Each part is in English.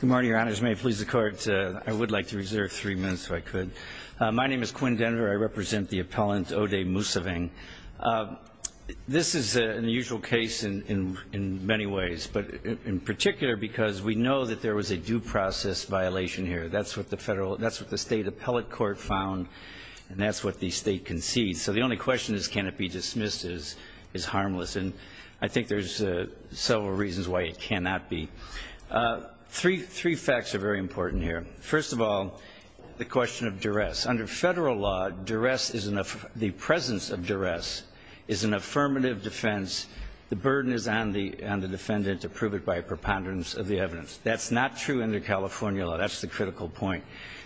Good morning, your honors. May it please the court. I would like to reserve three minutes if I could. My name is Quinn Denver. I represent the appellant Odey Mounsaveng. This is an unusual case in many ways, but in particular because we know that there was a due process violation here. That's what the state appellate court found, and that's what the state concedes. So the only question is can it be dismissed is harmless, and I think there's several reasons why it cannot be. Three facts are very important here. First of all, the question of duress. Under federal law, the presence of duress is an affirmative defense. The burden is on the defendant to prove it by a preponderance of the evidence. That's not true under California law. That's the critical point.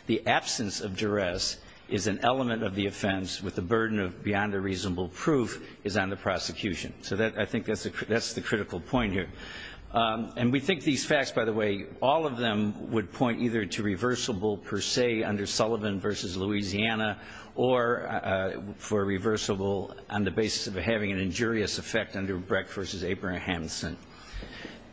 The absence of duress is an element of the offense with the burden of beyond a reasonable proof is on the prosecution. So I think that's the critical point here. And we think these facts, by the way, all of them would point either to reversible per se under Sullivan v. Louisiana or for reversible on the basis of having an injurious effect under Breck v. Abrahamson.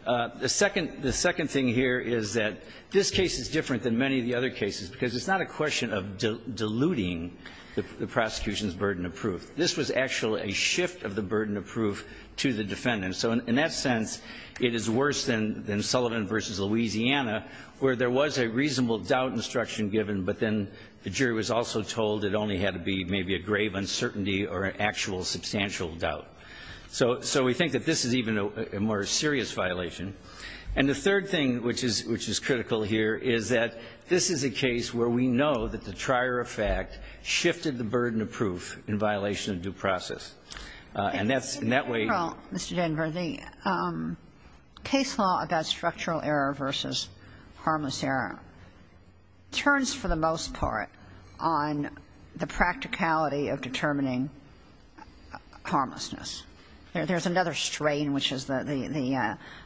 The second thing here is that this case is different than many of the other cases because it's not a question of diluting the prosecution's burden of proof. This was actually a shift of the burden of proof to the defendant. So in that sense, it is worse than Sullivan v. Louisiana where there was a reasonable doubt instruction given, but then the jury was also told it only had to be maybe a grave uncertainty or an actual substantial doubt. So we think that this is even a more serious violation. And the third thing, which is critical here, is that this is a case where we know that the trier effect shifted the burden of proof in violation of due process. And that's in that way. Kagan. Mr. Denver, the case law about structural error versus harmless error turns for the most part on the practicality of determining harmlessness. There's another strain, which is the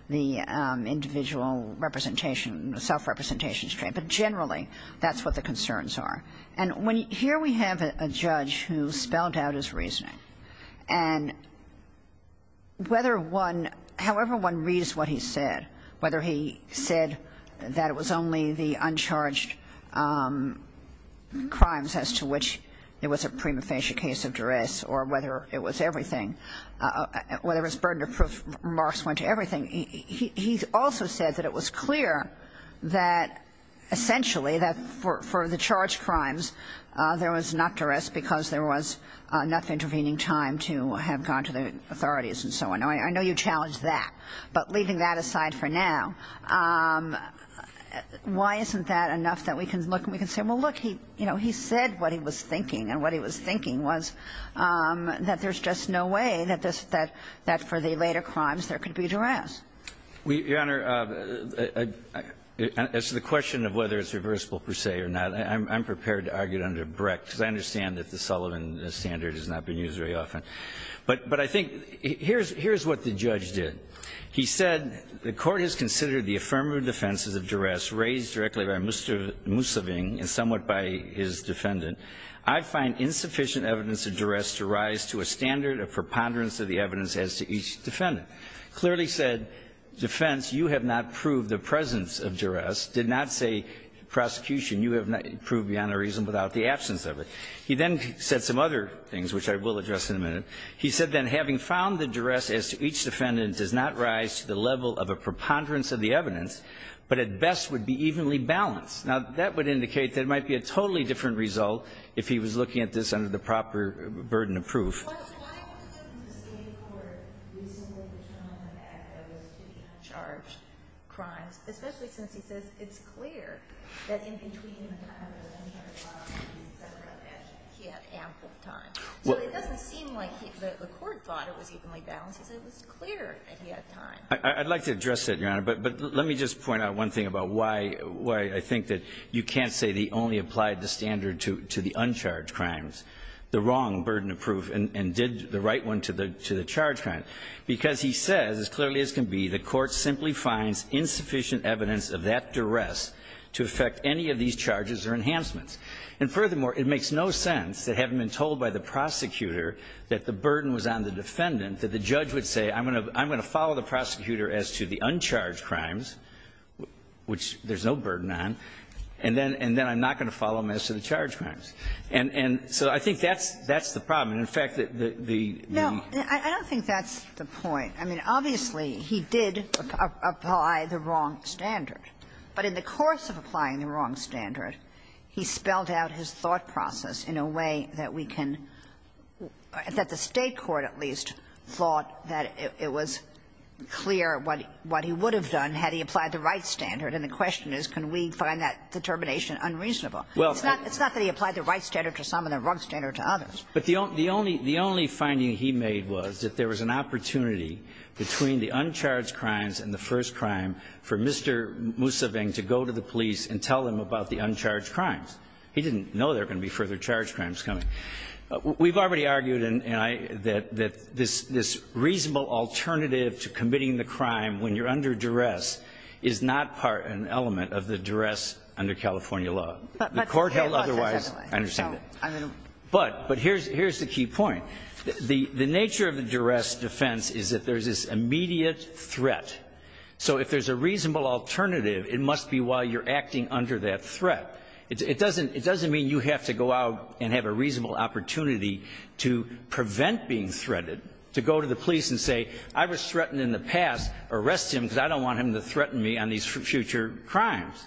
individual representation, self-representation strain, but generally that's what the concerns are. And here we have a judge who spelled out his reasoning. And whether one – however one reads what he said, whether he said that it was only the uncharged crimes as to which it was a prima facie case of duress or whether it was everything, whether it was burden of proof, remarks went to everything. He also said that it was clear that essentially that for the charged crimes there was not duress because there was enough intervening time to have gone to the authorities and so on. I know you challenged that. But leaving that aside for now, why isn't that enough that we can look and we can say, well, look, he said what he was thinking, and what he was thinking was that there's just no way that for the later crimes there could be duress? Your Honor, as to the question of whether it's reversible per se or not, I'm prepared to argue it under Brecht because I understand that the Sullivan standard has not been used very often. But I think here's what the judge did. He said, He then said some other things, which I will address in a minute. He said that having found the duress as to each defendant does not rise to the level of a preponderance of the evidence, but at best would be evenly balanced. Now, that would indicate that it might be a totally different result if he was looking at this under the proper burden of proof. I'd like to address it, Your Honor. But let me just point out one thing about why I think that you can't say the only standard to the uncharged crimes, the wrong burden of proof, and did the right one to the charged crime. Because he says, as clearly as can be, the Court simply finds insufficient evidence of that duress to affect any of these charges or enhancements. And furthermore, it makes no sense that having been told by the prosecutor that the burden was on the defendant, that the judge would say, I'm going to follow the prosecutor as to the uncharged crimes, which there's no burden on, and then I'm not going to follow him as to the charged crimes. And so I think that's the problem. And, in fact, the question is, can we find that determination unreasonably clear? And I don't think that's the point. I mean, obviously, he did apply the wrong standard. But in the course of applying the wrong standard, he spelled out his thought process in a way that we can – that the State court at least thought that it was clear what he would have done had he applied the right standard. And the question is, can we find that determination unreasonable? It's not that he applied the right standard to some and the wrong standard to others. But the only – the only finding he made was that there was an opportunity between the uncharged crimes and the first crime for Mr. Museveng to go to the police and tell him about the uncharged crimes. He didn't know there were going to be further charged crimes coming. We've already argued, and I – that this reasonable alternative to committing the crime when you're under duress is not part and element of the duress under California law. The court held otherwise. I understand that. But here's the key point. The nature of the duress defense is that there's this immediate threat. So if there's a reasonable alternative, it must be while you're acting under that threat. It doesn't mean you have to go out and have a reasonable opportunity to prevent being threatened, to go to the police and say, I was threatened in the past. Arrest him because I don't want him to threaten me on these future crimes.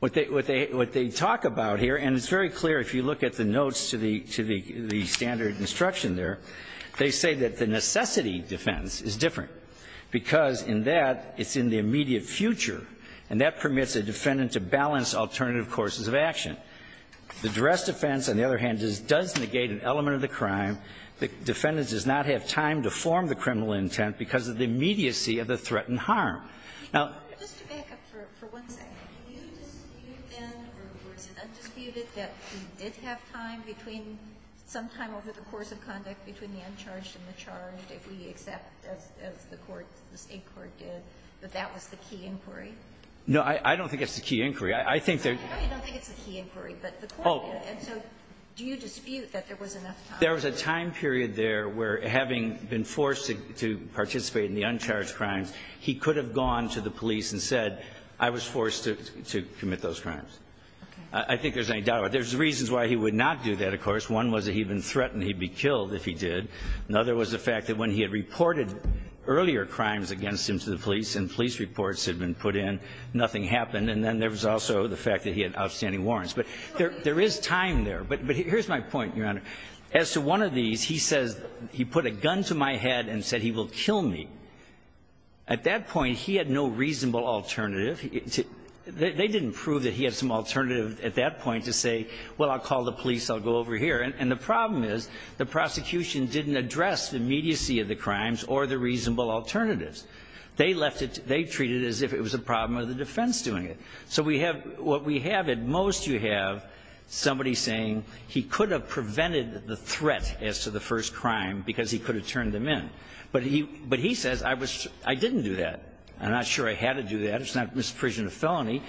What they talk about here – and it's very clear if you look at the notes to the standard instruction there. They say that the necessity defense is different because in that it's in the immediate future. And that permits a defendant to balance alternative courses of action. The duress defense, on the other hand, does negate an element of the crime. The defendant does not have time to form the criminal intent because of the immediacy of the threatened harm. Now – Sotomayor, do you dispute then, or is it undisputed, that he did have time between – some time over the course of conduct between the uncharged and the charged that we accept as the court, the State court did, that that was the key inquiry? No, I don't think it's the key inquiry. I think that – I don't think it's the key inquiry, but the court did. And so do you dispute that there was enough time? There was a time period there where, having been forced to participate in the uncharged crimes, he could have gone to the police and said, I was forced to commit those crimes. I think there's no doubt about it. There's reasons why he would not do that, of course. One was that he'd been threatened he'd be killed if he did. Another was the fact that when he had reported earlier crimes against him to the police and police reports had been put in, nothing happened. And then there was also the fact that he had outstanding warrants. But there is time there. But here's my point, Your Honor. As to one of these, he says – he put a gun to my head and said he will kill me. At that point, he had no reasonable alternative. They didn't prove that he had some alternative at that point to say, well, I'll call the police, I'll go over here. And the problem is the prosecution didn't address the immediacy of the crimes or the reasonable alternatives. They left it – they treated it as if it was a problem of the defense doing it. So we have – what we have at most, you have somebody saying he could have prevented the threat as to the first crime because he could have turned them in. But he says, I was – I didn't do that. I'm not sure I had to do that. It's not misapprehension of felony.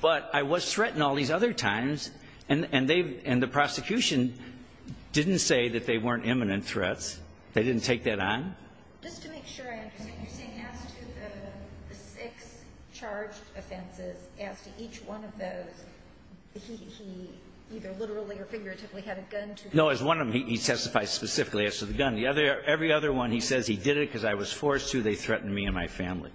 But I was threatened all these other times. And they – and the prosecution didn't say that they weren't imminent threats. They didn't take that on. Just to make sure I understand, you're saying as to the six charged offenses, as to each one of those, he either literally or figuratively had a gun to his head? No, as one of them, he testifies specifically as to the gun. The other – every other one, he says he did it because I was forced to, they threatened me and my family,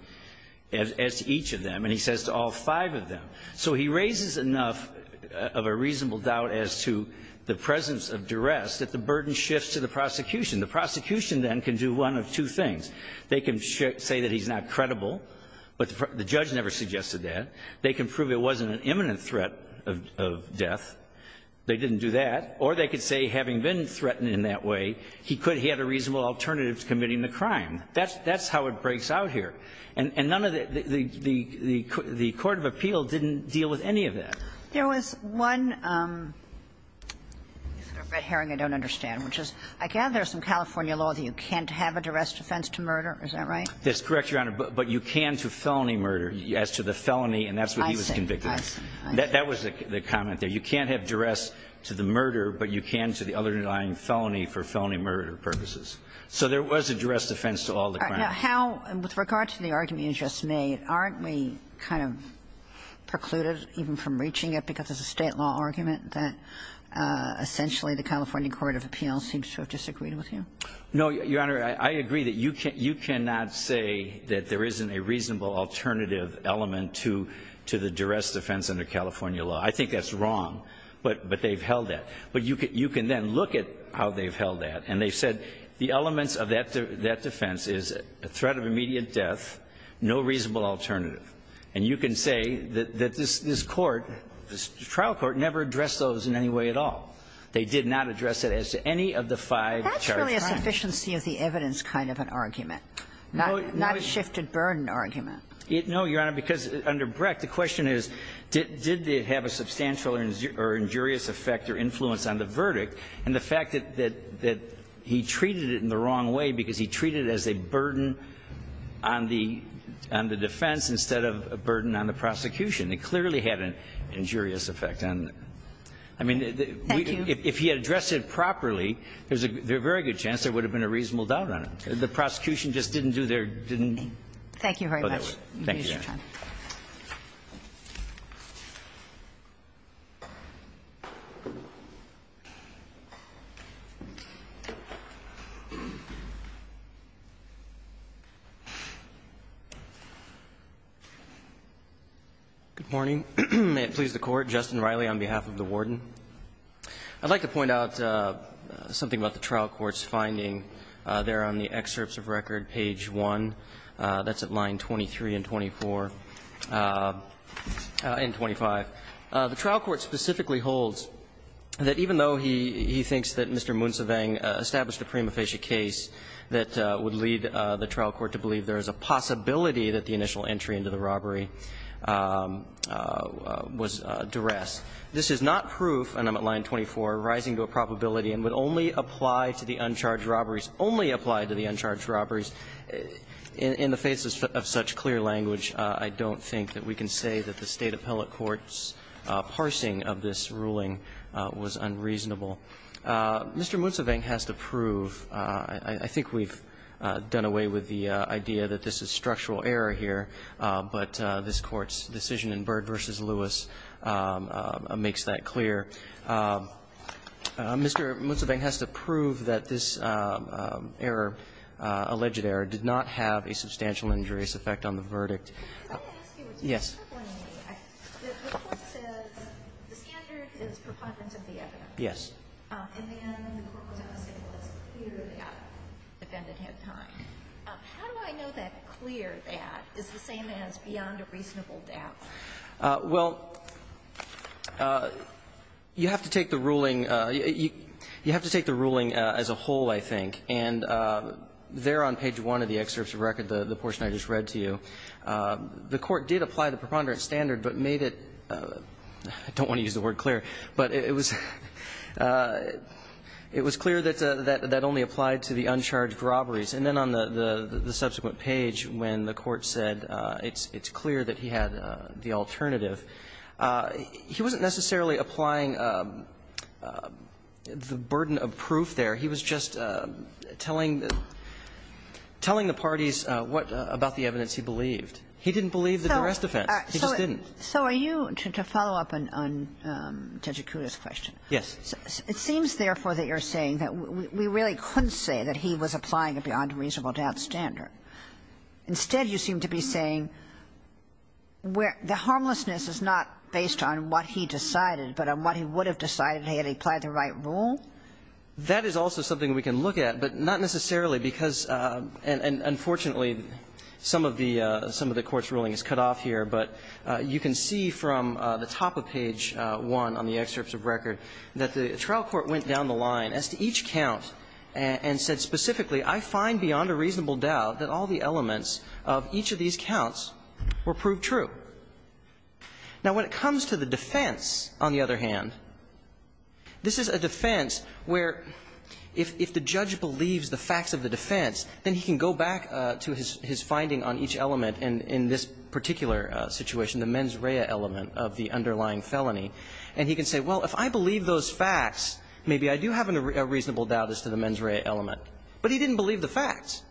as to each of them. And he says to all five of them. So he raises enough of a reasonable doubt as to the presence of duress that the burden shifts to the prosecution. The prosecution, then, can do one of two things. They can say that he's not credible, but the judge never suggested that. They can prove it wasn't an imminent threat of death. They didn't do that. Or they could say, having been threatened in that way, he could – he had a reasonable alternative to committing the crime. That's how it breaks out here. And none of the – the court of appeal didn't deal with any of that. There was one – Mr. Red Herring, I don't understand, which is I gather there's some California law that you can't have a duress defense to murder. Is that right? That's correct, Your Honor. But you can to felony murder as to the felony, and that's what he was convicted of. I see. I see. That was the comment there. You can't have duress to the murder, but you can to the underlying felony for felony murder purposes. So there was a duress defense to all the crimes. All right. Now, how – with regard to the argument you just made, aren't we kind of precluded even from reaching it, because it's a State law argument that essentially the California court of appeal seems to have disagreed with you? No, Your Honor. I agree that you cannot say that there isn't a reasonable alternative element to the duress defense under California law. I think that's wrong, but they've held that. But you can then look at how they've held that, and they've said the elements of that defense is a threat of immediate death, no reasonable alternative. And you can say that this court, this trial court, never addressed those in any way at all. They did not address it as to any of the five charged crimes. That's really a sufficiency of the evidence kind of an argument, not a shifted burden argument. No, Your Honor, because under Brecht, the question is, did it have a substantial or injurious effect or influence on the verdict? And the fact that he treated it in the wrong way because he treated it as a burden on the defense instead of a burden on the prosecution, it clearly had an injurious effect. And, I mean, if he had addressed it properly, there's a very good chance there would have been a reasonable doubt on it. The prosecution just didn't do their thing. Thank you very much. Thank you, Your Honor. Thank you. Good morning. May it please the Court. Justin Riley on behalf of the Warden. I'd like to point out something about the trial court's finding there on the excerpts of record, page 1. That's at line 23 and 24 and 25. The trial court specifically holds that even though he thinks that Mr. Moonsavang established a prima facie case that would lead the trial court to believe there is a possibility that the initial entry into the robbery was duress. This is not proof, and I'm at line 24, rising to a probability and would only apply to the uncharged robberies, only apply to the uncharged robberies. In the face of such clear language, I don't think that we can say that the State appellate court's parsing of this ruling was unreasonable. Mr. Moonsavang has to prove. I think we've done away with the idea that this is structural error here, but this Court's decision in Bird v. Lewis makes that clear. Mr. Moonsavang has to prove that this error, alleged error, did not have a substantial injurious effect on the verdict. Yes. The Court says the standard is preponderance of the evidence. Yes. And then the Court was unable to clear that defendant in time. How do I know that clear that is the same as beyond a reasonable doubt? Well, you have to take the ruling as a whole, I think, and there on page 1 of the excerpts of record, the portion I just read to you, the Court did apply the preponderance standard, but made it, I don't want to use the word clear, but it was clear that that only applied to the uncharged robberies. And then on the subsequent page, when the Court said it's clear that he had the alternative, he wasn't necessarily applying the burden of proof there. He was just telling the parties what about the evidence he believed. He didn't believe the duress defense. He just didn't. So are you, to follow up on Tejikuda's question. Yes. It seems, therefore, that you're saying that we really couldn't say that he was applying a beyond reasonable doubt standard. Instead, you seem to be saying where the harmlessness is not based on what he decided, but on what he would have decided had he applied the right rule? That is also something we can look at, but not necessarily because, and unfortunately, some of the Court's ruling is cut off here. But you can see from the top of page 1 on the excerpts of record that the trial court went down the line as to each count and said specifically, I find beyond a reasonable doubt that all the elements of each of these counts were proved true. Now, when it comes to the defense, on the other hand, this is a defense where if the judge believes the facts of the defense, then he can go back to his finding on each other situation, the mens rea element of the underlying felony, and he can say, well, if I believe those facts, maybe I do have a reasonable doubt as to the mens rea element, but he didn't believe the facts.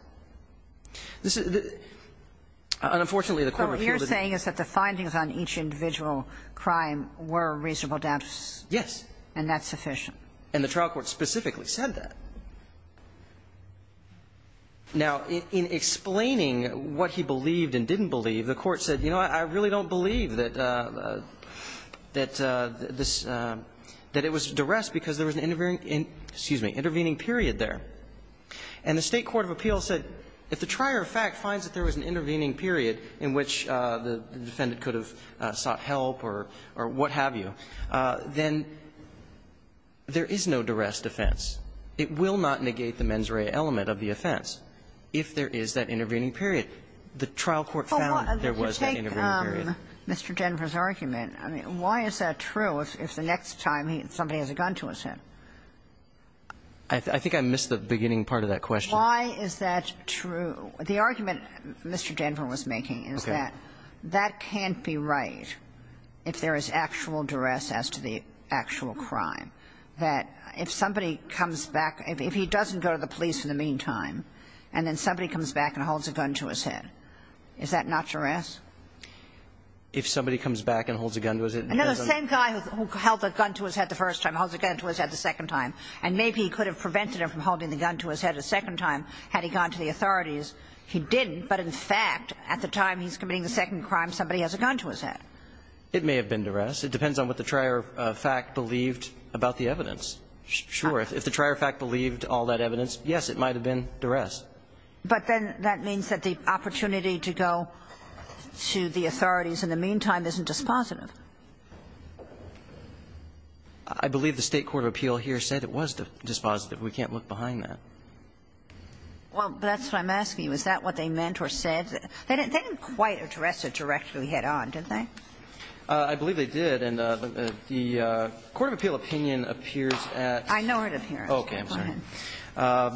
And unfortunately, the Court refused to do that. So what you're saying is that the findings on each individual crime were reasonable doubts? Yes. And that's sufficient. And the trial court specifically said that. Now, in explaining what he believed and didn't believe, the Court said, you know, I really don't believe that this – that it was duress because there was an intervening – excuse me – intervening period there. And the State court of appeals said if the trier of fact finds that there was an intervening period in which the defendant could have sought help or what have you, then there is no duress defense. It will not negate the mens rea element of the offense if there is that intervening period. The trial court found there was an intervening period. Oh, take Mr. Denver's argument. I mean, why is that true if the next time somebody has a gun to his head? I think I missed the beginning part of that question. Why is that true? The argument Mr. Denver was making is that that can't be right if there is actual duress as to the actual crime, that if somebody comes back, if he doesn't go to the authorities, he didn't, but in fact, at the time he's committing the second crime, somebody has a gun to his head. It may have been duress. It depends on what the trier of fact believed about the evidence. Sure. If the trier of fact believed all that evidence, yes, it might have been duress. It depends on what the trier of fact believed about the evidence. So the opportunity to go to the authorities in the meantime isn't dispositive? I believe the State court of appeal here said it was dispositive. We can't look behind that. Well, that's what I'm asking you. Is that what they meant or said? They didn't quite address it directly head on, did they? I believe they did. And the court of appeal opinion appears at the court of appeals. I know where it appears. I'm sorry.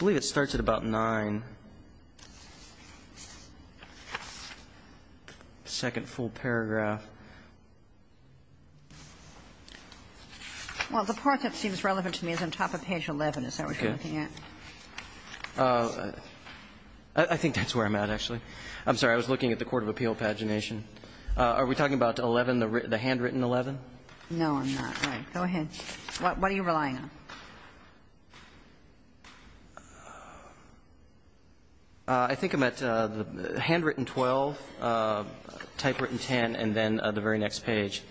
I believe it starts at about 9. Second full paragraph. Well, the part that seems relevant to me is on top of page 11. Is that what you're looking at? I think that's where I'm at, actually. I'm sorry. I was looking at the court of appeal pagination. Are we talking about 11, the handwritten 11? No, I'm not. Go ahead. What are you relying on? I think I'm at the handwritten 12, typewritten 10, and then the very next page.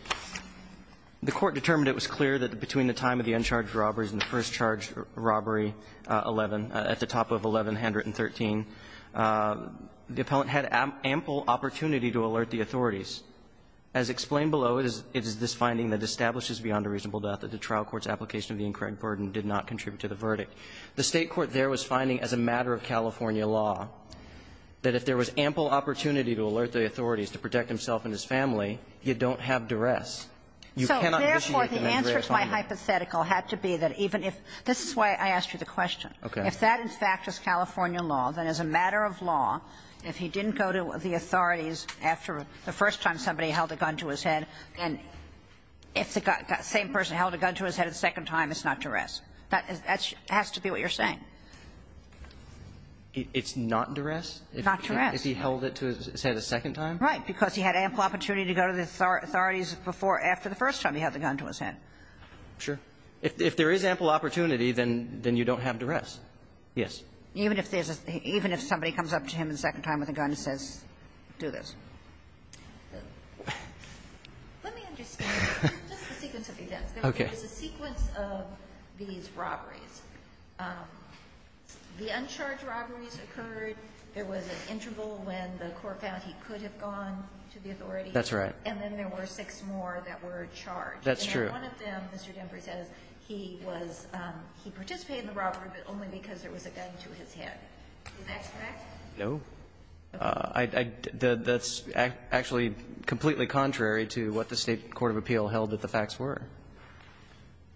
The Court determined it was clear that between the time of the uncharged robberies and the first charged robbery, 11, at the top of 11, handwritten 13, the appellant had ample opportunity to alert the authorities. As explained below, it is this finding that establishes beyond a reasonable doubt that the trial court's application of the incorrect burden did not contribute to the verdict. The State court there was finding as a matter of California law that if there was ample opportunity to alert the authorities to protect himself and his family, you don't have duress. So therefore, the answer to my hypothetical had to be that even if this is why I asked you the question. Okay. If that in fact is California law, then as a matter of law, if he didn't go to the authorities after the first time somebody held a gun to his head, and if the same person held a gun to his head a second time, it's not duress. That has to be what you're saying. It's not duress? Not duress. If he held it to his head a second time? Right. Because he had ample opportunity to go to the authorities before or after the first time he held the gun to his head. Sure. If there is ample opportunity, then you don't have duress. Yes. Even if there's a – even if somebody comes up to him a second time with a gun and says, do this. Let me understand just the sequence of events. Okay. There's a sequence of these robberies. The uncharged robberies occurred. There was an interval when the court found he could have gone to the authorities. That's right. And then there were six more that were charged. That's true. And one of them, Mr. Dempry says, he was – he participated in the robbery, but only because there was a gun to his head. Is that correct? No. That's actually completely contrary to what the State court of appeal held that the facts were.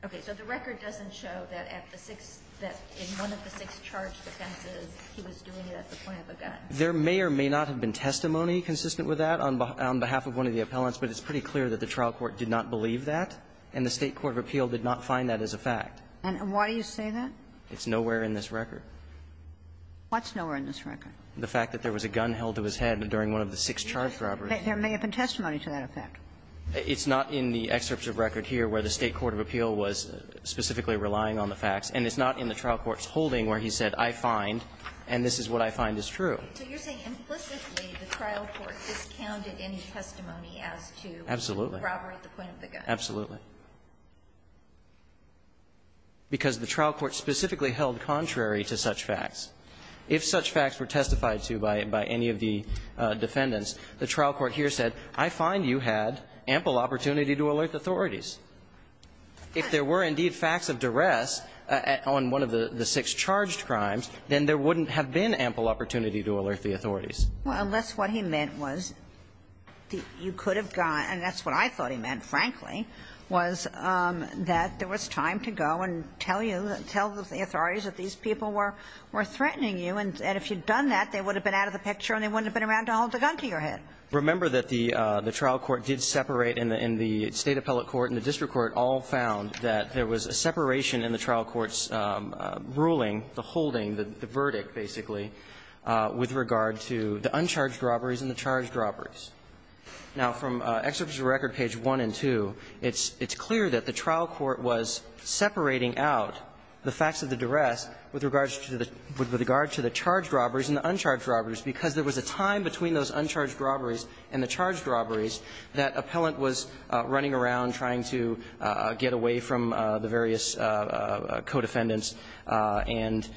Okay. So the record doesn't show that at the six – that in one of the six charged offenses, he was doing it at the point of a gun. There may or may not have been testimony consistent with that on behalf of one of the appellants, but it's pretty clear that the trial court did not believe that, and the State court of appeal did not find that as a fact. And why do you say that? It's nowhere in this record. What's nowhere in this record? The fact that there was a gun held to his head during one of the six charged robberies. There may have been testimony to that effect. It's not in the excerpt of record here where the State court of appeal was specifically relying on the facts, and it's not in the trial court's holding where he said, I find, and this is what I find is true. So you're saying implicitly the trial court discounted any testimony as to the robbery at the point of the gun. Absolutely. Because the trial court specifically held contrary to such facts. If such facts were testified to by any of the defendants, the trial court here said, I find you had ample opportunity to alert authorities. If there were indeed facts of duress on one of the six charged crimes, then there wouldn't have been ample opportunity to alert the authorities. Well, unless what he meant was that you could have gone, and that's what I thought he meant, frankly, was that there was time to go and tell you, tell the authorities that these people were threatening you, and if you'd done that, they would have been out of the picture and they wouldn't have been around to hold the gun to your head. Remember that the trial court did separate, and the State appellate court and the district court all found that there was a separation in the trial court's ruling, the holding, the verdict, basically, with regard to the uncharged robberies and the charged robberies. Now, from Excerpts of Record, page 1 and 2, it's clear that the trial court was separating out the facts of the duress with regards to the charged robberies and the uncharged robberies and the charged robberies that appellant was running around trying to get away from the various co-defendants, and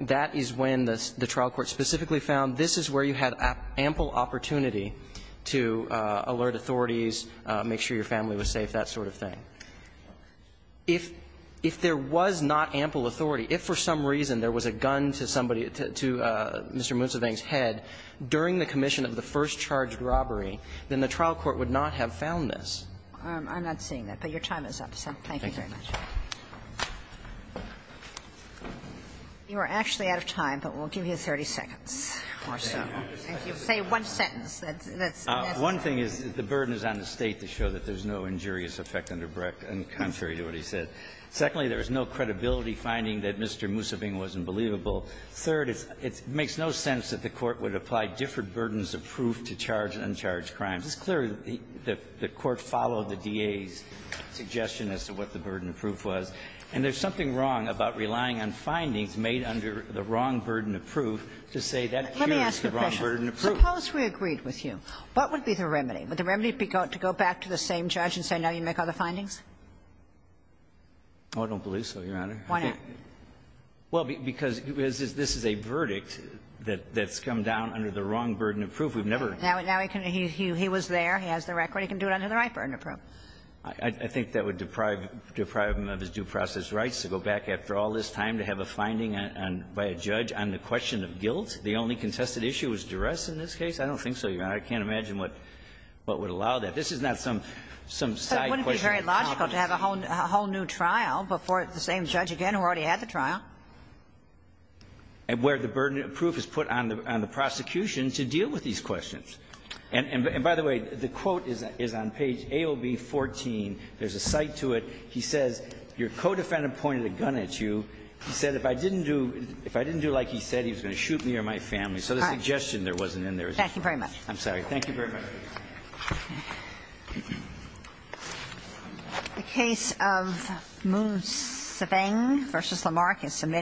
that is when the trial court specifically found this is where you had ample opportunity to alert authorities, make sure your family was safe, that sort of thing. If there was not ample authority, if for some reason there was a gun to somebody to Mr. Mussoving's head during the commission of the first charged robbery, then the trial court would not have found this. I'm not seeing that, but your time is up, so thank you very much. You are actually out of time, but we'll give you 30 seconds or so. Thank you. Say one sentence that's necessary. One thing is the burden is on the State to show that there's no injurious effect under Brecht and contrary to what he said. Secondly, there is no credibility finding that Mr. Mussoving wasn't believable. Third, it makes no sense that the Court would apply different burdens of proof to charged and uncharged crimes. It's clear that the Court followed the DA's suggestion as to what the burden of proof was, and there's something wrong about relying on findings made under the wrong burden of proof to say that appears to be the wrong burden of proof. Suppose we agreed with you. What would be the remedy? Would the remedy be to go back to the same judge and say now you make other findings? I don't believe so, Your Honor. Why not? Well, because this is a verdict that's come down under the wrong burden of proof. We've never ---- Now he was there. He has the record. He can do it under the right burden of proof. I think that would deprive him of his due process rights to go back after all this time to have a finding by a judge on the question of guilt. The only contested issue was duress in this case. I don't think so, Your Honor. I can't imagine what would allow that. This is not some side question. It wouldn't be very logical to have a whole new trial before the same judge again who already had the trial. And where the burden of proof is put on the prosecution to deal with these questions. And by the way, the quote is on page AOB 14. There's a cite to it. He says, your co-defendant pointed a gun at you. He said, if I didn't do like he said, he was going to shoot me or my family. So the suggestion there wasn't in there. Thank you very much. I'm sorry. Thank you very much. The case of Moon-Se-Bang v. Lamarck is submitted.